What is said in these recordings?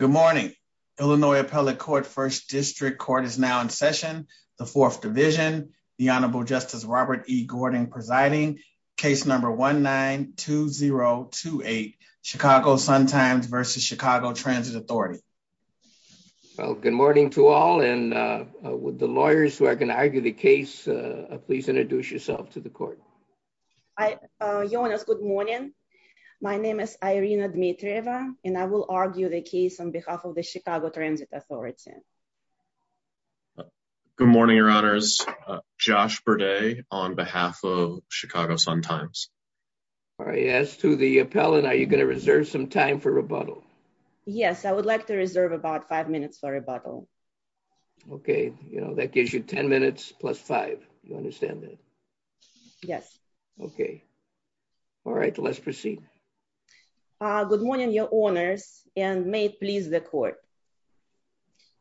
Good morning. Illinois Appellate Court First District Court is now in session. The Fourth Division, the Honorable Justice Robert E. Gordon presiding. Case number 19-2028, Chicago Sun Times versus Chicago Transit Authority. Well, good morning to all and with the lawyers who are going to argue the case, please introduce yourself to the court. Good morning. My name is Irina Dmitrieva and I will argue the case on behalf of the Chicago Transit Authority. Good morning, Your Honors. Josh Berday on behalf of Chicago Sun Times. As to the appellant, are you going to reserve some time for rebuttal? Yes, I would like to reserve about five minutes for rebuttal. Okay, you know, that gives you 10 minutes plus five. You understand that? Yes. Okay. All right, let's proceed. Good morning, Your Honors, and may it please the court.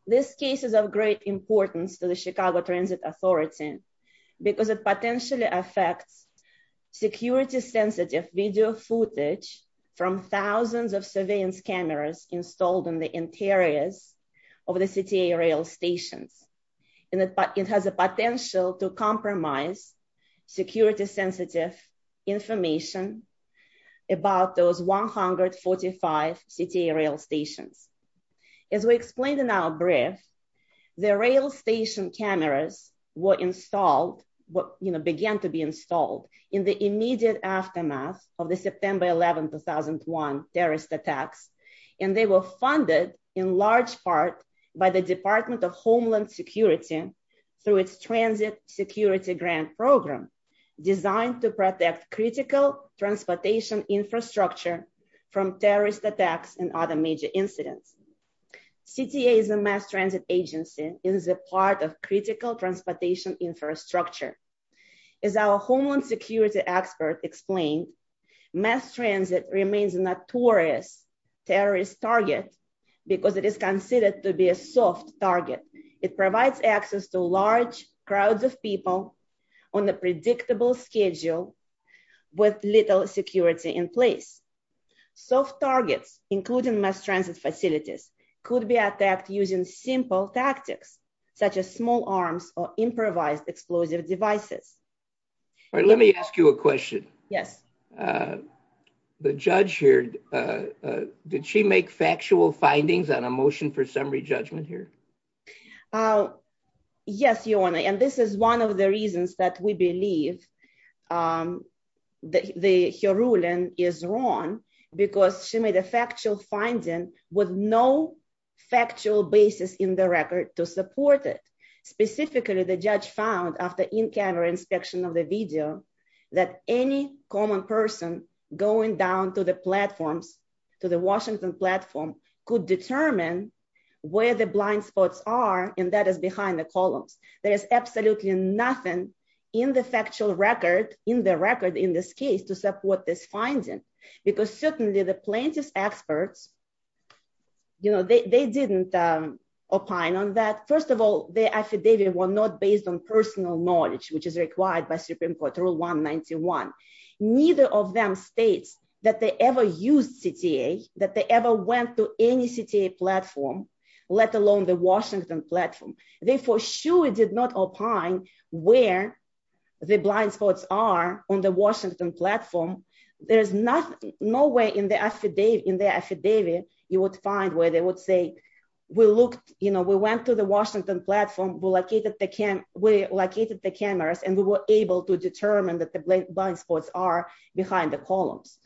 This case is of great importance to the Chicago Transit Authority because it potentially affects security sensitive video footage from thousands of surveillance cameras installed in the interiors of the city rail stations. And it has a potential to compromise security sensitive information about those 145 city rail stations. As we explained in our brief, the rail station cameras were installed, you know, began to be installed in the immediate aftermath of the September 11, 2001 terrorist attacks. And they were funded in large part by the Department of Homeland Security through its transit security grant program designed to protect critical transportation infrastructure from terrorist attacks and other major incidents. CTA is a mass transit agency is a part of critical transportation infrastructure. As our Homeland Security expert explained, mass transit remains a notorious terrorist target, because it is considered to be a soft target. It provides access to large crowds of people on the predictable schedule with little security in place. Soft targets, including mass transit facilities, could be attacked using simple tactics, such as small arms or improvised explosive devices. Let me ask you a question. Yes. The judge here. Did she make factual findings on a motion for summary judgment here? Yes, your honor. And this is one of the reasons that we believe that the ruling is wrong, because she made a factual finding with no factual basis in the record to support it. Specifically, the judge found after in-camera inspection of the video that any common person going down to the platforms, to the Washington platform, could determine where the blind spots are, and that is behind the columns. There is absolutely nothing in the factual record, in the record in this case, to support this finding, because certainly the plaintiff's experts, you know, they didn't opine on that. First of all, the affidavit was not based on personal knowledge, which is required by Supreme Court Rule 191. Neither of them states that they ever used CTA, that they ever went to any CTA platform, let alone the Washington platform. They for sure did not opine where the blind spots are on the Washington platform. There is no way in the affidavit you would find where they would say, we went to the Washington platform, we located the cameras, and we were able to determine that the blind spots are behind the columns.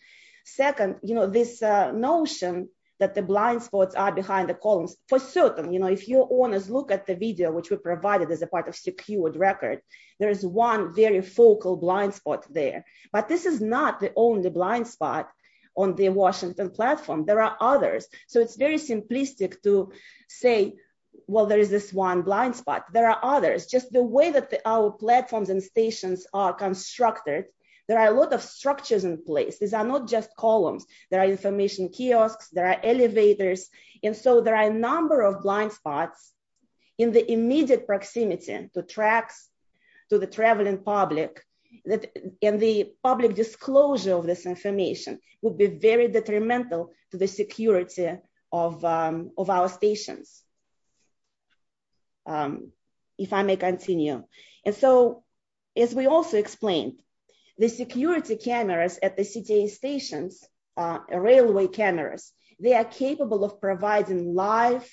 Second, you know, this notion that the blind spots are behind the columns, for certain, you know, if your owners look at the video, which we provided as a part of secured record, there is one very focal blind spot there. But this is not the only blind spot on the Washington platform. There are others. So it's very simplistic to say, well, there is this one blind spot. There are others. Just the way that our platforms and stations are constructed, there are a lot of structures in place. These are not just columns. There are information kiosks, there are elevators. And so there are a number of blind spots in the immediate proximity to tracks, to the traveling public, and the public disclosure of this information would be very detrimental to the security of our stations. If I may continue. And so, as we also explained, the security cameras at the CTA stations, railway cameras, they are capable of providing live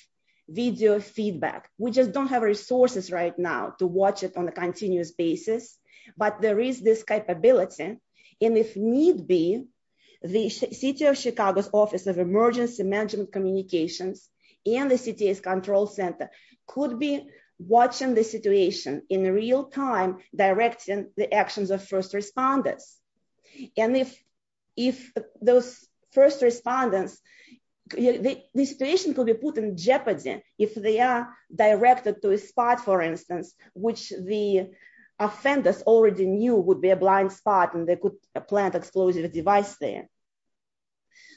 video feedback. We just don't have resources right now to watch it on a continuous basis. But there is this capability. And if need be, the City of Chicago's Office of Emergency Management Communications and the CTA's Control Center could be watching the situation in real time, directing the actions of first responders. And if those first responders, the situation could be put in jeopardy if they are directed to a spot, for instance, which the offenders already knew would be a blind spot and they could plant an explosive device there.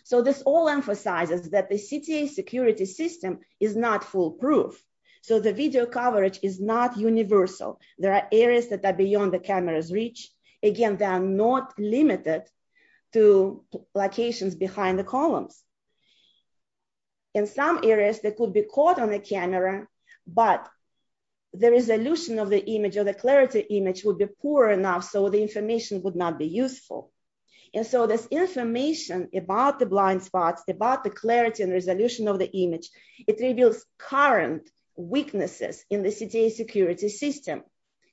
So this all emphasizes that the CTA security system is not foolproof. So the video coverage is not universal. There are areas that are beyond the camera's reach. Again, they are not limited to locations behind the columns. In some areas, they could be caught on the camera, but the resolution of the image or the clarity image would be poor enough so the information would not be useful. And so this information about the blind spots, about the clarity and resolution of the image, it reveals current weaknesses in the CTA security system.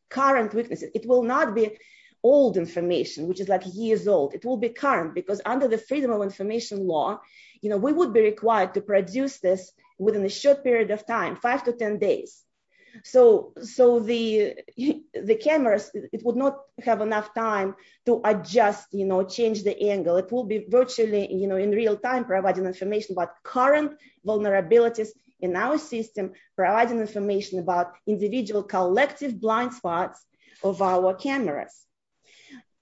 Current weaknesses. It will not be old information, which is like years old. It will be current because under the freedom of information law, we would be required to produce this within a short period of time, five to 10 days. So the cameras, it would not have enough time to adjust, you know, change the angle. It will be virtually, you know, in real time providing information about current vulnerabilities in our system, providing information about individual collective blind spots of our cameras.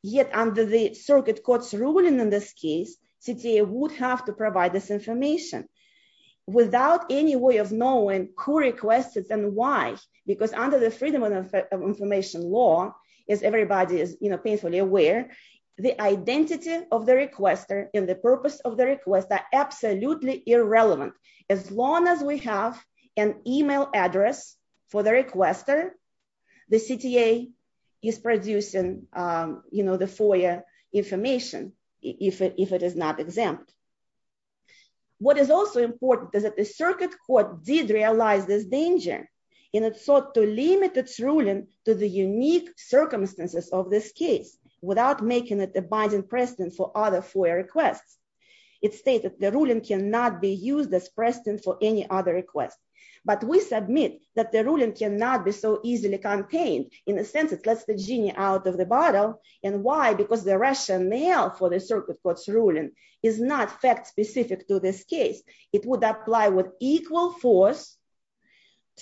Yet under the circuit court's ruling in this case, CTA would have to provide this information without any way of knowing who requested and why. Because under the freedom of information law, as everybody is, you know, painfully aware, the identity of the requester and the purpose of the request are absolutely irrelevant. As long as we have an email address for the requester, the CTA is producing, you know, the FOIA information if it is not exempt. What is also important is that the circuit court did realize this danger, and it sought to limit its ruling to the unique circumstances of this case without making it a binding precedent for other FOIA requests. It states that the ruling cannot be used as precedent for any other request. But we submit that the ruling cannot be so easily contained. In a sense, it lets the genie out of the bottle. And why? Because the rationale for the circuit court's ruling is not fact-specific to this case. It would apply with equal force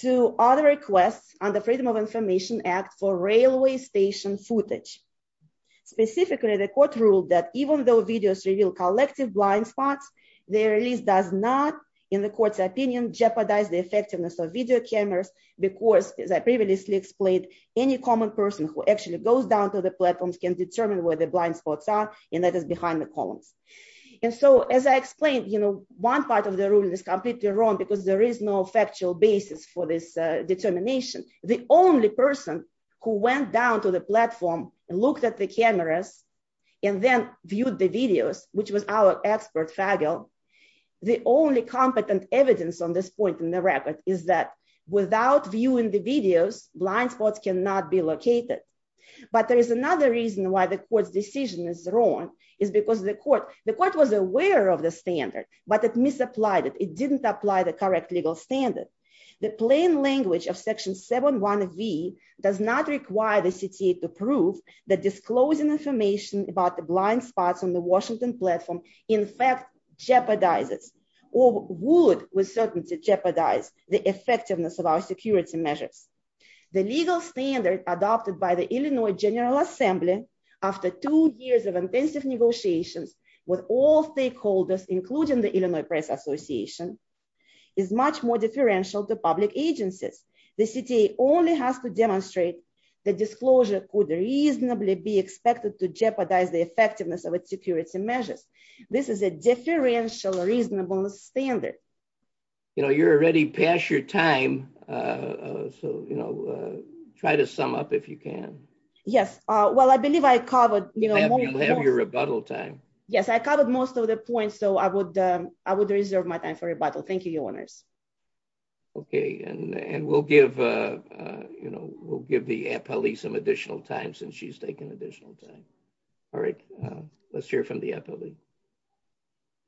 to other requests under Freedom of Information Act for railway station footage. Specifically, the court ruled that even though videos reveal collective blind spots, their release does not, in the court's opinion, jeopardize the effectiveness of video cameras because, as I previously explained, any common person who actually goes down to the platforms can determine where the blind spots are, and that is behind the columns. And so, as I explained, you know, one part of the ruling is completely wrong because there is no factual basis for this determination. The only person who went down to the platform, looked at the cameras, and then viewed the videos, which was our expert, Fagel, The only competent evidence on this point in the record is that without viewing the videos, blind spots cannot be located. But there is another reason why the court's decision is wrong. It's because the court was aware of the standard, but it misapplied it. It didn't apply the correct legal standard. The plain language of Section 7.1.V does not require the CTA to prove that disclosing information about the blind spots on the Washington platform, in fact, jeopardizes or would, with certainty, jeopardize the effectiveness of our security measures. The legal standard adopted by the Illinois General Assembly after two years of intensive negotiations with all stakeholders, including the Illinois Press Association, is much more differential to public agencies. The CTA only has to demonstrate that disclosure could reasonably be expected to jeopardize the effectiveness of its security measures. This is a differential reasonable standard. You know, you're already past your time. So, you know, try to sum up if you can. Yes. Well, I believe I covered, you know, You'll have your rebuttal time. Yes, I covered most of the points. So I would, I would reserve my time for rebuttal. Thank you, Your Honors. Okay, and we'll give, you know, we'll give the appellee some additional time since she's taking additional time. All right. Let's hear from the appellee.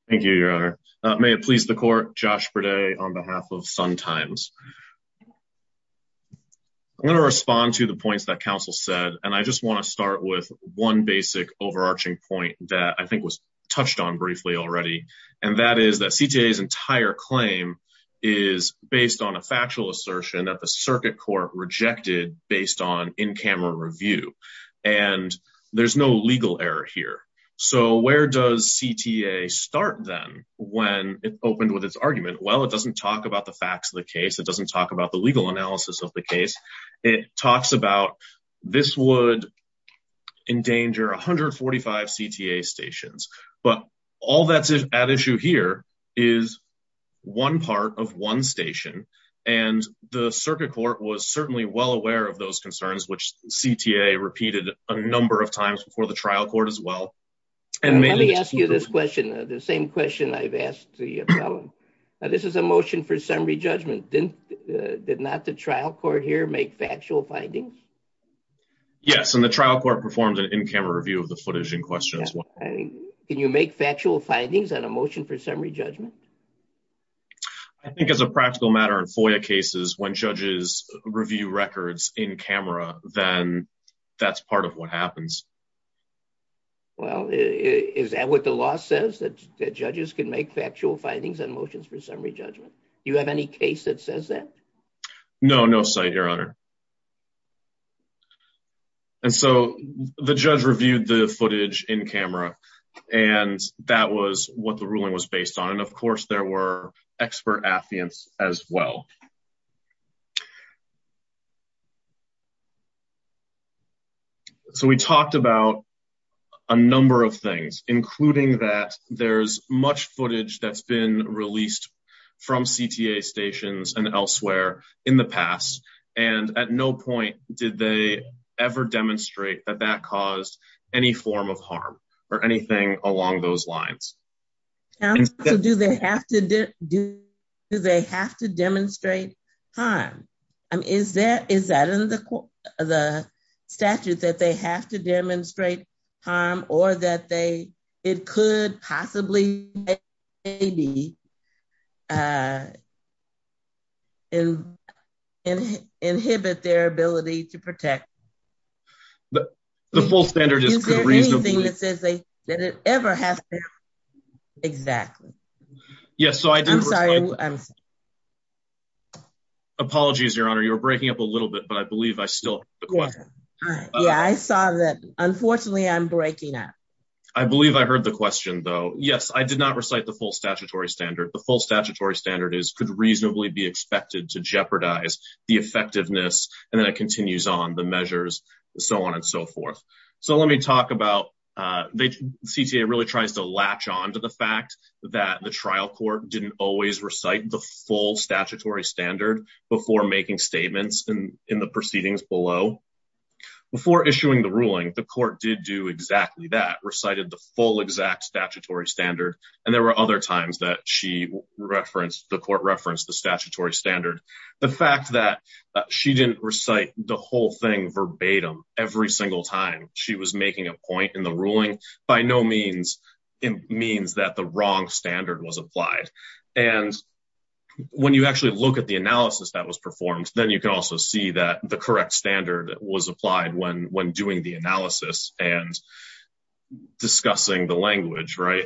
Thank you, Your Honor. May it please the court, Josh Berday on behalf of Sun Times. I'm going to respond to the points that counsel said, and I just want to start with one basic overarching point that I think was touched on briefly already, and that is that CTA's entire claim is based on a factual assertion that the circuit court rejected based on in-camera review. And there's no legal error here. So where does CTA start then when it opened with its argument? Well, it doesn't talk about the facts of the case. It doesn't talk about the legal analysis of the case. It talks about this would endanger 145 CTA stations, but all that's at issue here is one part of one station. And the circuit court was certainly well aware of those concerns, which CTA repeated a number of times before the trial court as well. Let me ask you this question, the same question I've asked the appellant. This is a motion for summary judgment. Did not the trial court here make factual findings? Yes, and the trial court performed an in-camera review of the footage in question as well. Can you make factual findings on a motion for summary judgment? I think as a practical matter in FOIA cases, when judges review records in camera, then that's part of what happens. Well, is that what the law says, that judges can make factual findings on motions for summary judgment? Do you have any case that says that? No, no site, Your Honor. And so the judge reviewed the footage in camera, and that was what the ruling was based on. And of course, there were expert affiants as well. So we talked about a number of things, including that there's much footage that's been released from CTA stations and elsewhere in the past. And at no point did they ever demonstrate that that caused any form of harm or anything along those lines. Do they have to demonstrate harm? Is that in the statute, that they have to demonstrate harm or that it could possibly inhibit their ability to protect? The full standard is reasonable. Is there anything that says they ever have to? Exactly. Yes, so I did. Apologies, Your Honor, you're breaking up a little bit, but I believe I still have the question. Yeah, I saw that. Unfortunately, I'm breaking up. I believe I heard the question, though. Yes, I did not recite the full statutory standard. The full statutory standard is could reasonably be expected to jeopardize the effectiveness, and then it continues on the measures, so on and so forth. So let me talk about the CTA really tries to latch on to the fact that the trial court didn't always recite the full statutory standard before making statements in the proceedings below. Before issuing the ruling, the court did do exactly that, recited the full exact statutory standard, and there were other times that she referenced, the court referenced the statutory standard. The fact that she didn't recite the whole thing verbatim every single time she was making a point in the ruling by no means means that the wrong standard was applied. And when you actually look at the analysis that was performed, then you can also see that the correct standard was applied when doing the analysis and discussing the language, right?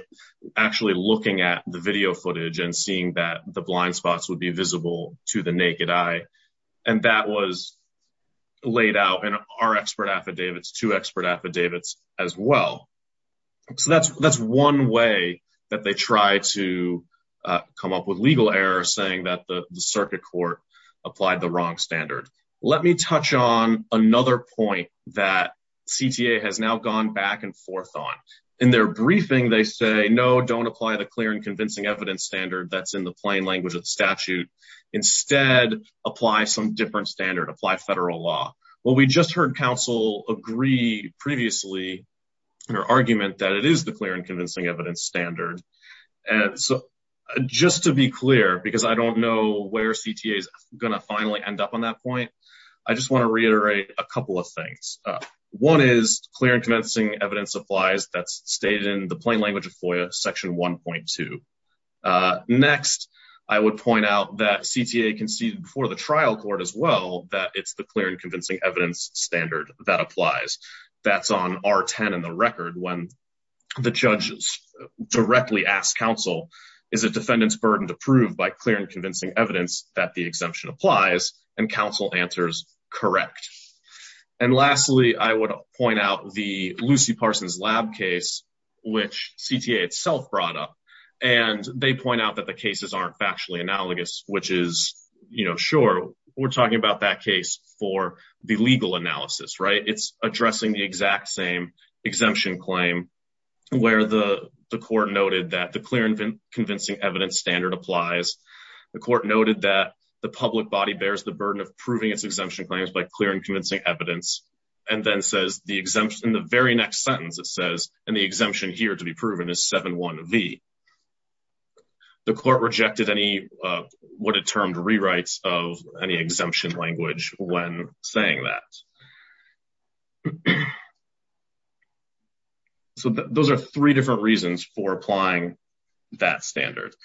Actually looking at the video footage and seeing that the blind spots would be visible to the naked eye. And that was laid out in our expert affidavits to expert affidavits as well. So that's one way that they try to come up with legal error saying that the circuit court applied the wrong standard. Let me touch on another point that CTA has now gone back and forth on. In their briefing, they say, no, don't apply the clear and convincing evidence standard that's in the plain language of statute. Instead, apply some different standard, apply federal law. Well, we just heard counsel agree previously in her argument that it is the clear and convincing evidence standard. And so just to be clear, because I don't know where CTA is going to finally end up on that point, I just want to reiterate a couple of things. One is clear and convincing evidence applies that's stated in the plain language of FOIA section 1.2. Next, I would point out that CTA conceded before the trial court as well that it's the clear and convincing evidence standard that applies. That's on R10 in the record when the judges directly ask counsel is a defendant's burden to prove by clear and convincing evidence that the exemption applies and counsel answers correct. And lastly, I would point out the Lucy Parsons lab case, which CTA itself brought up. And they point out that the cases aren't factually analogous, which is, you know, sure, we're talking about that case for the legal analysis, right? It's addressing the exact same exemption claim where the court noted that the clear and convincing evidence standard applies. The court noted that the public body bears the burden of proving its exemption claims by clear and convincing evidence, and then says the exemption in the very next sentence, it says, and the exemption here to be proven is 7-1-V. The court rejected any what it termed rewrites of any exemption language when saying that. So those are three different reasons for applying that standard.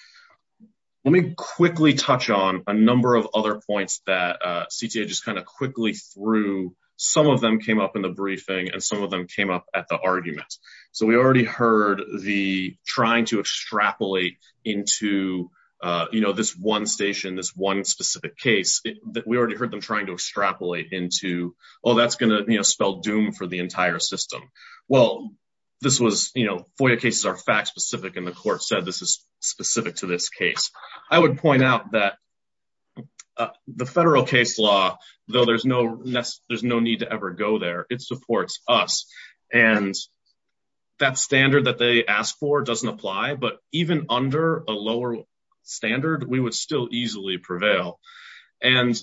Let me quickly touch on a number of other points that CTA just kind of quickly through. Some of them came up in the briefing and some of them came up at the argument. So we already heard the trying to extrapolate into, you know, this one station, this one specific case that we already heard them trying to extrapolate into, oh, that's going to spell doom for the entire system. Well, this was, you know, FOIA cases are fact specific, and the court said this is specific to this case. I would point out that the federal case law, though there's no need to ever go there, it supports us. And that standard that they asked for doesn't apply, but even under a lower standard, we would still easily prevail. And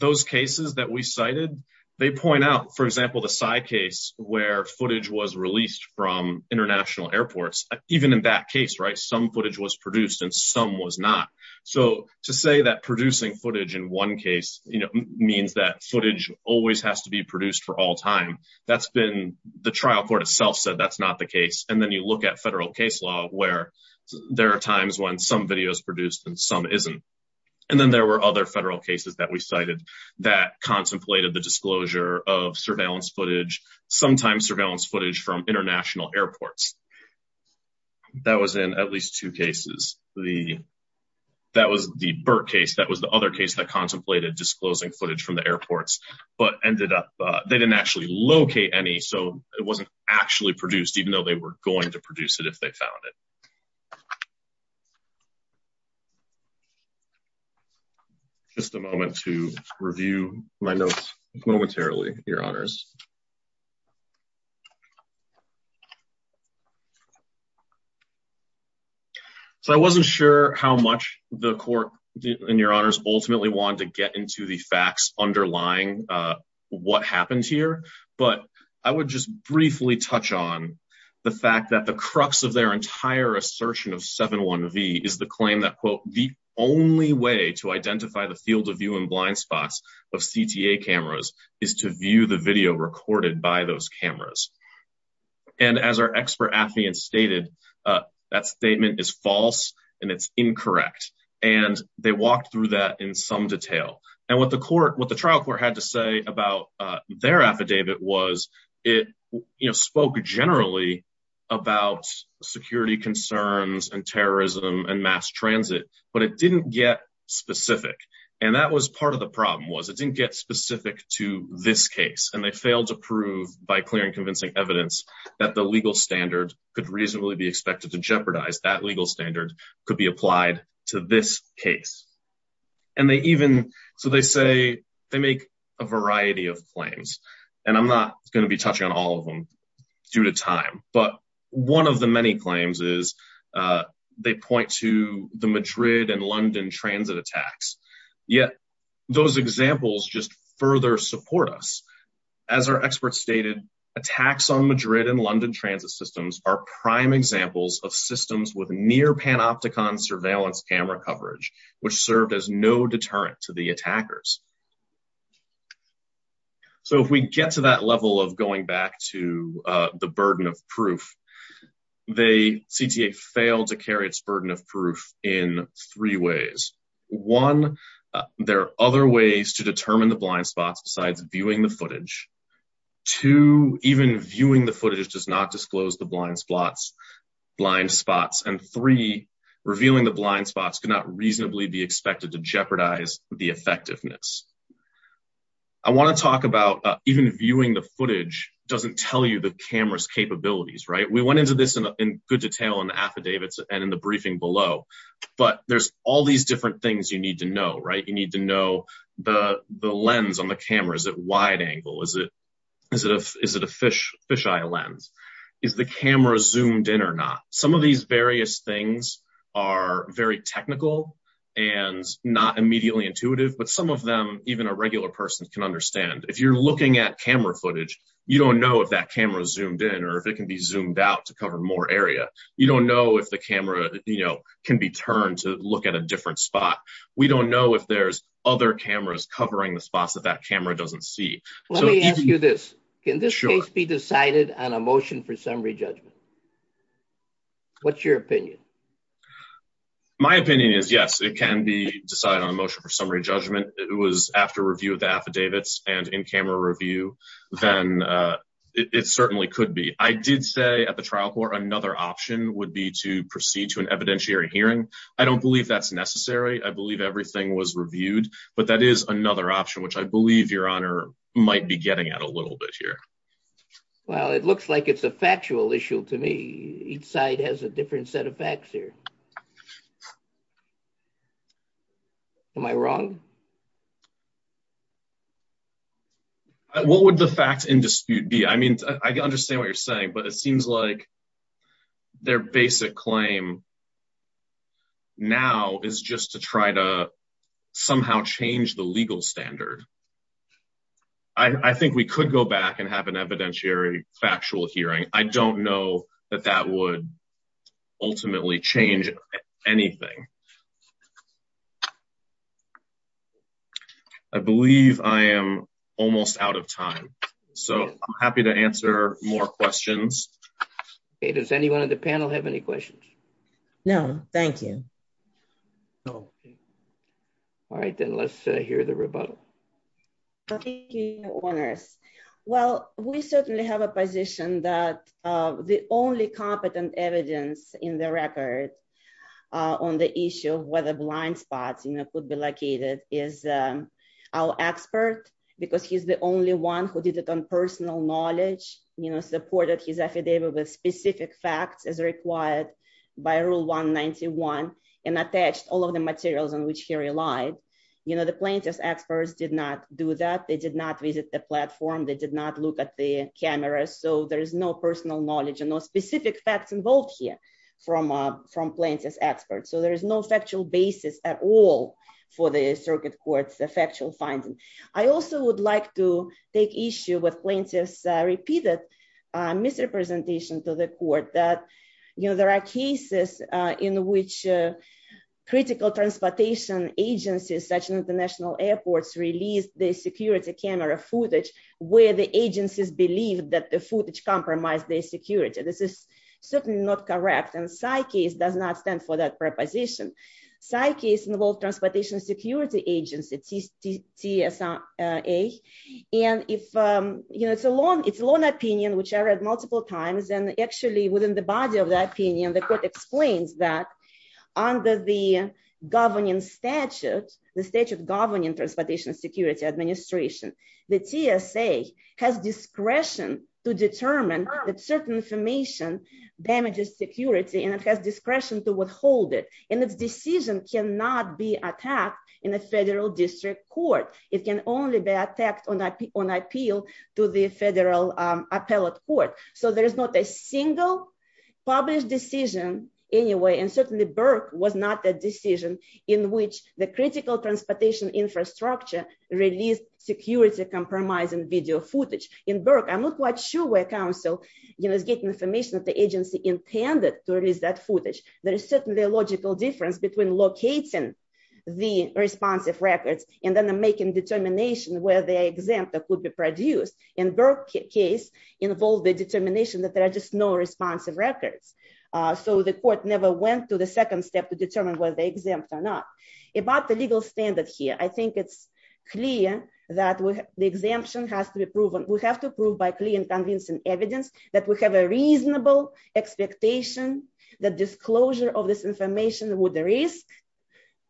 those cases that we cited, they point out, for example, the side case where footage was released from international airports. Even in that case, right, some footage was produced and some was not. So to say that producing footage in one case, you know, means that footage always has to be produced for all time. That's been the trial court itself said that's not the case. And then you look at federal case law where there are times when some videos produced and some isn't. And then there were other federal cases that we cited that contemplated the disclosure of surveillance footage, sometimes surveillance footage from international airports. That was in at least two cases. That was the Burt case, that was the other case that contemplated disclosing footage from the airports, but ended up, they didn't actually locate any, so it wasn't actually produced, even though they were going to produce it if they found it. Just a moment to review my notes momentarily, Your Honors. So I wasn't sure how much the court and Your Honors ultimately wanted to get into the facts underlying what happened here, but I would just briefly touch on the fact that the crux of their entire assertion of 7-1-V is the claim that, quote, the only way to identify the field of view and blind spots of CTA cameras is to view the video recorded by those cameras. And as our expert affidavit stated, that statement is false and it's incorrect. And they walked through that in some detail. And what the trial court had to say about their affidavit was it spoke generally about security concerns and terrorism and mass transit, but it didn't get specific. And that was part of the problem was it didn't get specific to this case and they failed to prove by clear and convincing evidence that the legal standard could reasonably be expected to jeopardize that legal standard could be applied to this case. And they even so they say they make a variety of claims, and I'm not going to be touching on all of them due to time, but one of the many claims is they point to the Madrid and London transit attacks. Yet, those examples just further support us. As our experts stated, attacks on Madrid and London transit systems are prime examples of systems with near panopticon surveillance camera coverage, which served as no deterrent to the attackers. So if we get to that level of going back to the burden of proof, they CTA failed to carry its burden of proof in three ways. One, there are other ways to determine the blind spots besides viewing the footage to even viewing the footage does not disclose the blind spots blind spots and three revealing the blind spots cannot reasonably be expected to jeopardize the effectiveness. I want to talk about even viewing the footage doesn't tell you the cameras capabilities right we went into this in good detail and affidavits and in the briefing below, but there's all these different things you need to know right you need to know the lens on the cameras at wide angle is it is it is it a fish fisheye lens is the camera zoomed in or not some of these various things are very technical and not immediately intuitive but some of them, even a regular person can understand if you're looking at camera footage, you don't know if that camera doesn't see you this can be decided on a motion for summary judgment. What's your opinion. My opinion is yes it can be decided on a motion for summary judgment, it was after review of the affidavits and in camera review, then it certainly could be I did say at the trial court another option would be to proceed to an evidentiary hearing. I don't believe that's necessary I believe everything was reviewed, but that is another option which I believe Your Honor might be getting at a little bit here. Well, it looks like it's a factual issue to me, each side has a different set of facts here. Am I wrong. What would the facts in dispute be I mean, I understand what you're saying but it seems like their basic claim. Now, is just to try to somehow change the legal standard. I think we could go back and have an evidentiary factual hearing, I don't know that that would ultimately change anything. I believe I am almost out of time. So, happy to answer more questions. Does anyone in the panel have any questions. No, thank you. No. All right, then let's hear the rebuttal. Okay, owners. Well, we certainly have a position that the only competent evidence in the record on the issue of whether blind spots you know could be located is our expert, because he's the only one who did it on personal knowledge, you know supported his affidavit with specific facts as required by rule 191, and attached all of the materials on which he relied. You know the plaintiff's experts did not do that they did not visit the platform they did not look at the camera so there is no personal knowledge involved here from from plaintiffs experts so there is no factual basis at all for the circuit courts the factual finding. I also would like to take issue with plaintiffs repeated misrepresentation to the court that, you know, there are cases in which critical transportation agencies such as the national airports released the security camera footage, where the agencies believe that the footage compromise their security, this is certainly not correct and side case does not stand for that preposition side case involved transportation security agency TSA. And if you know it's a long, it's a long opinion which I read multiple times and actually within the body of that opinion the court explains that under the governing statute, the statute governing transportation security administration, the TSA has discretion to determine that certain information damages security and it has discretion to withhold it, and its decision cannot be attacked in a federal district court, it can only be attacked on that on appeal to the release security compromise and video footage in Burke I'm not quite sure where council, you know, is getting information that the agency intended to release that footage, there is certainly a logical difference between locating the responsive records, and then making it clear that the exemption has to be proven, we have to prove by clean convincing evidence that we have a reasonable expectation that disclosure of this information would the risk,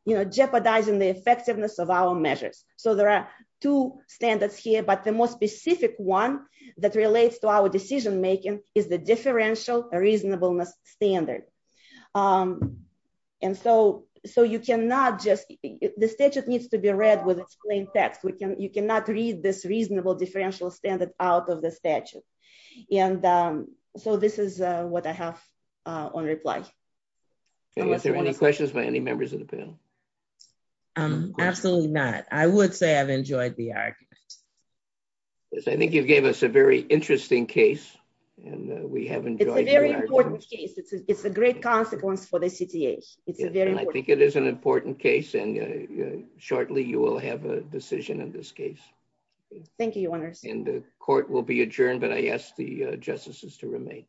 you know jeopardizing the effectiveness of our measures. So there are two standards here but the most specific one that relates to our decision making is the differential reasonableness standard. And so, so you cannot just the statute needs to be read with explained text we can you cannot read this reasonable differential standard out of the statute. And so this is what I have on reply. Any questions by any members of the panel. Absolutely not. I would say I've enjoyed the argument. Yes, I think you've gave us a very interesting case, and we haven't. It's a great consequence for the city. It's a very I think it is an important case and shortly you will have a decision in this case. Thank you. And the court will be adjourned but I asked the justices to remain.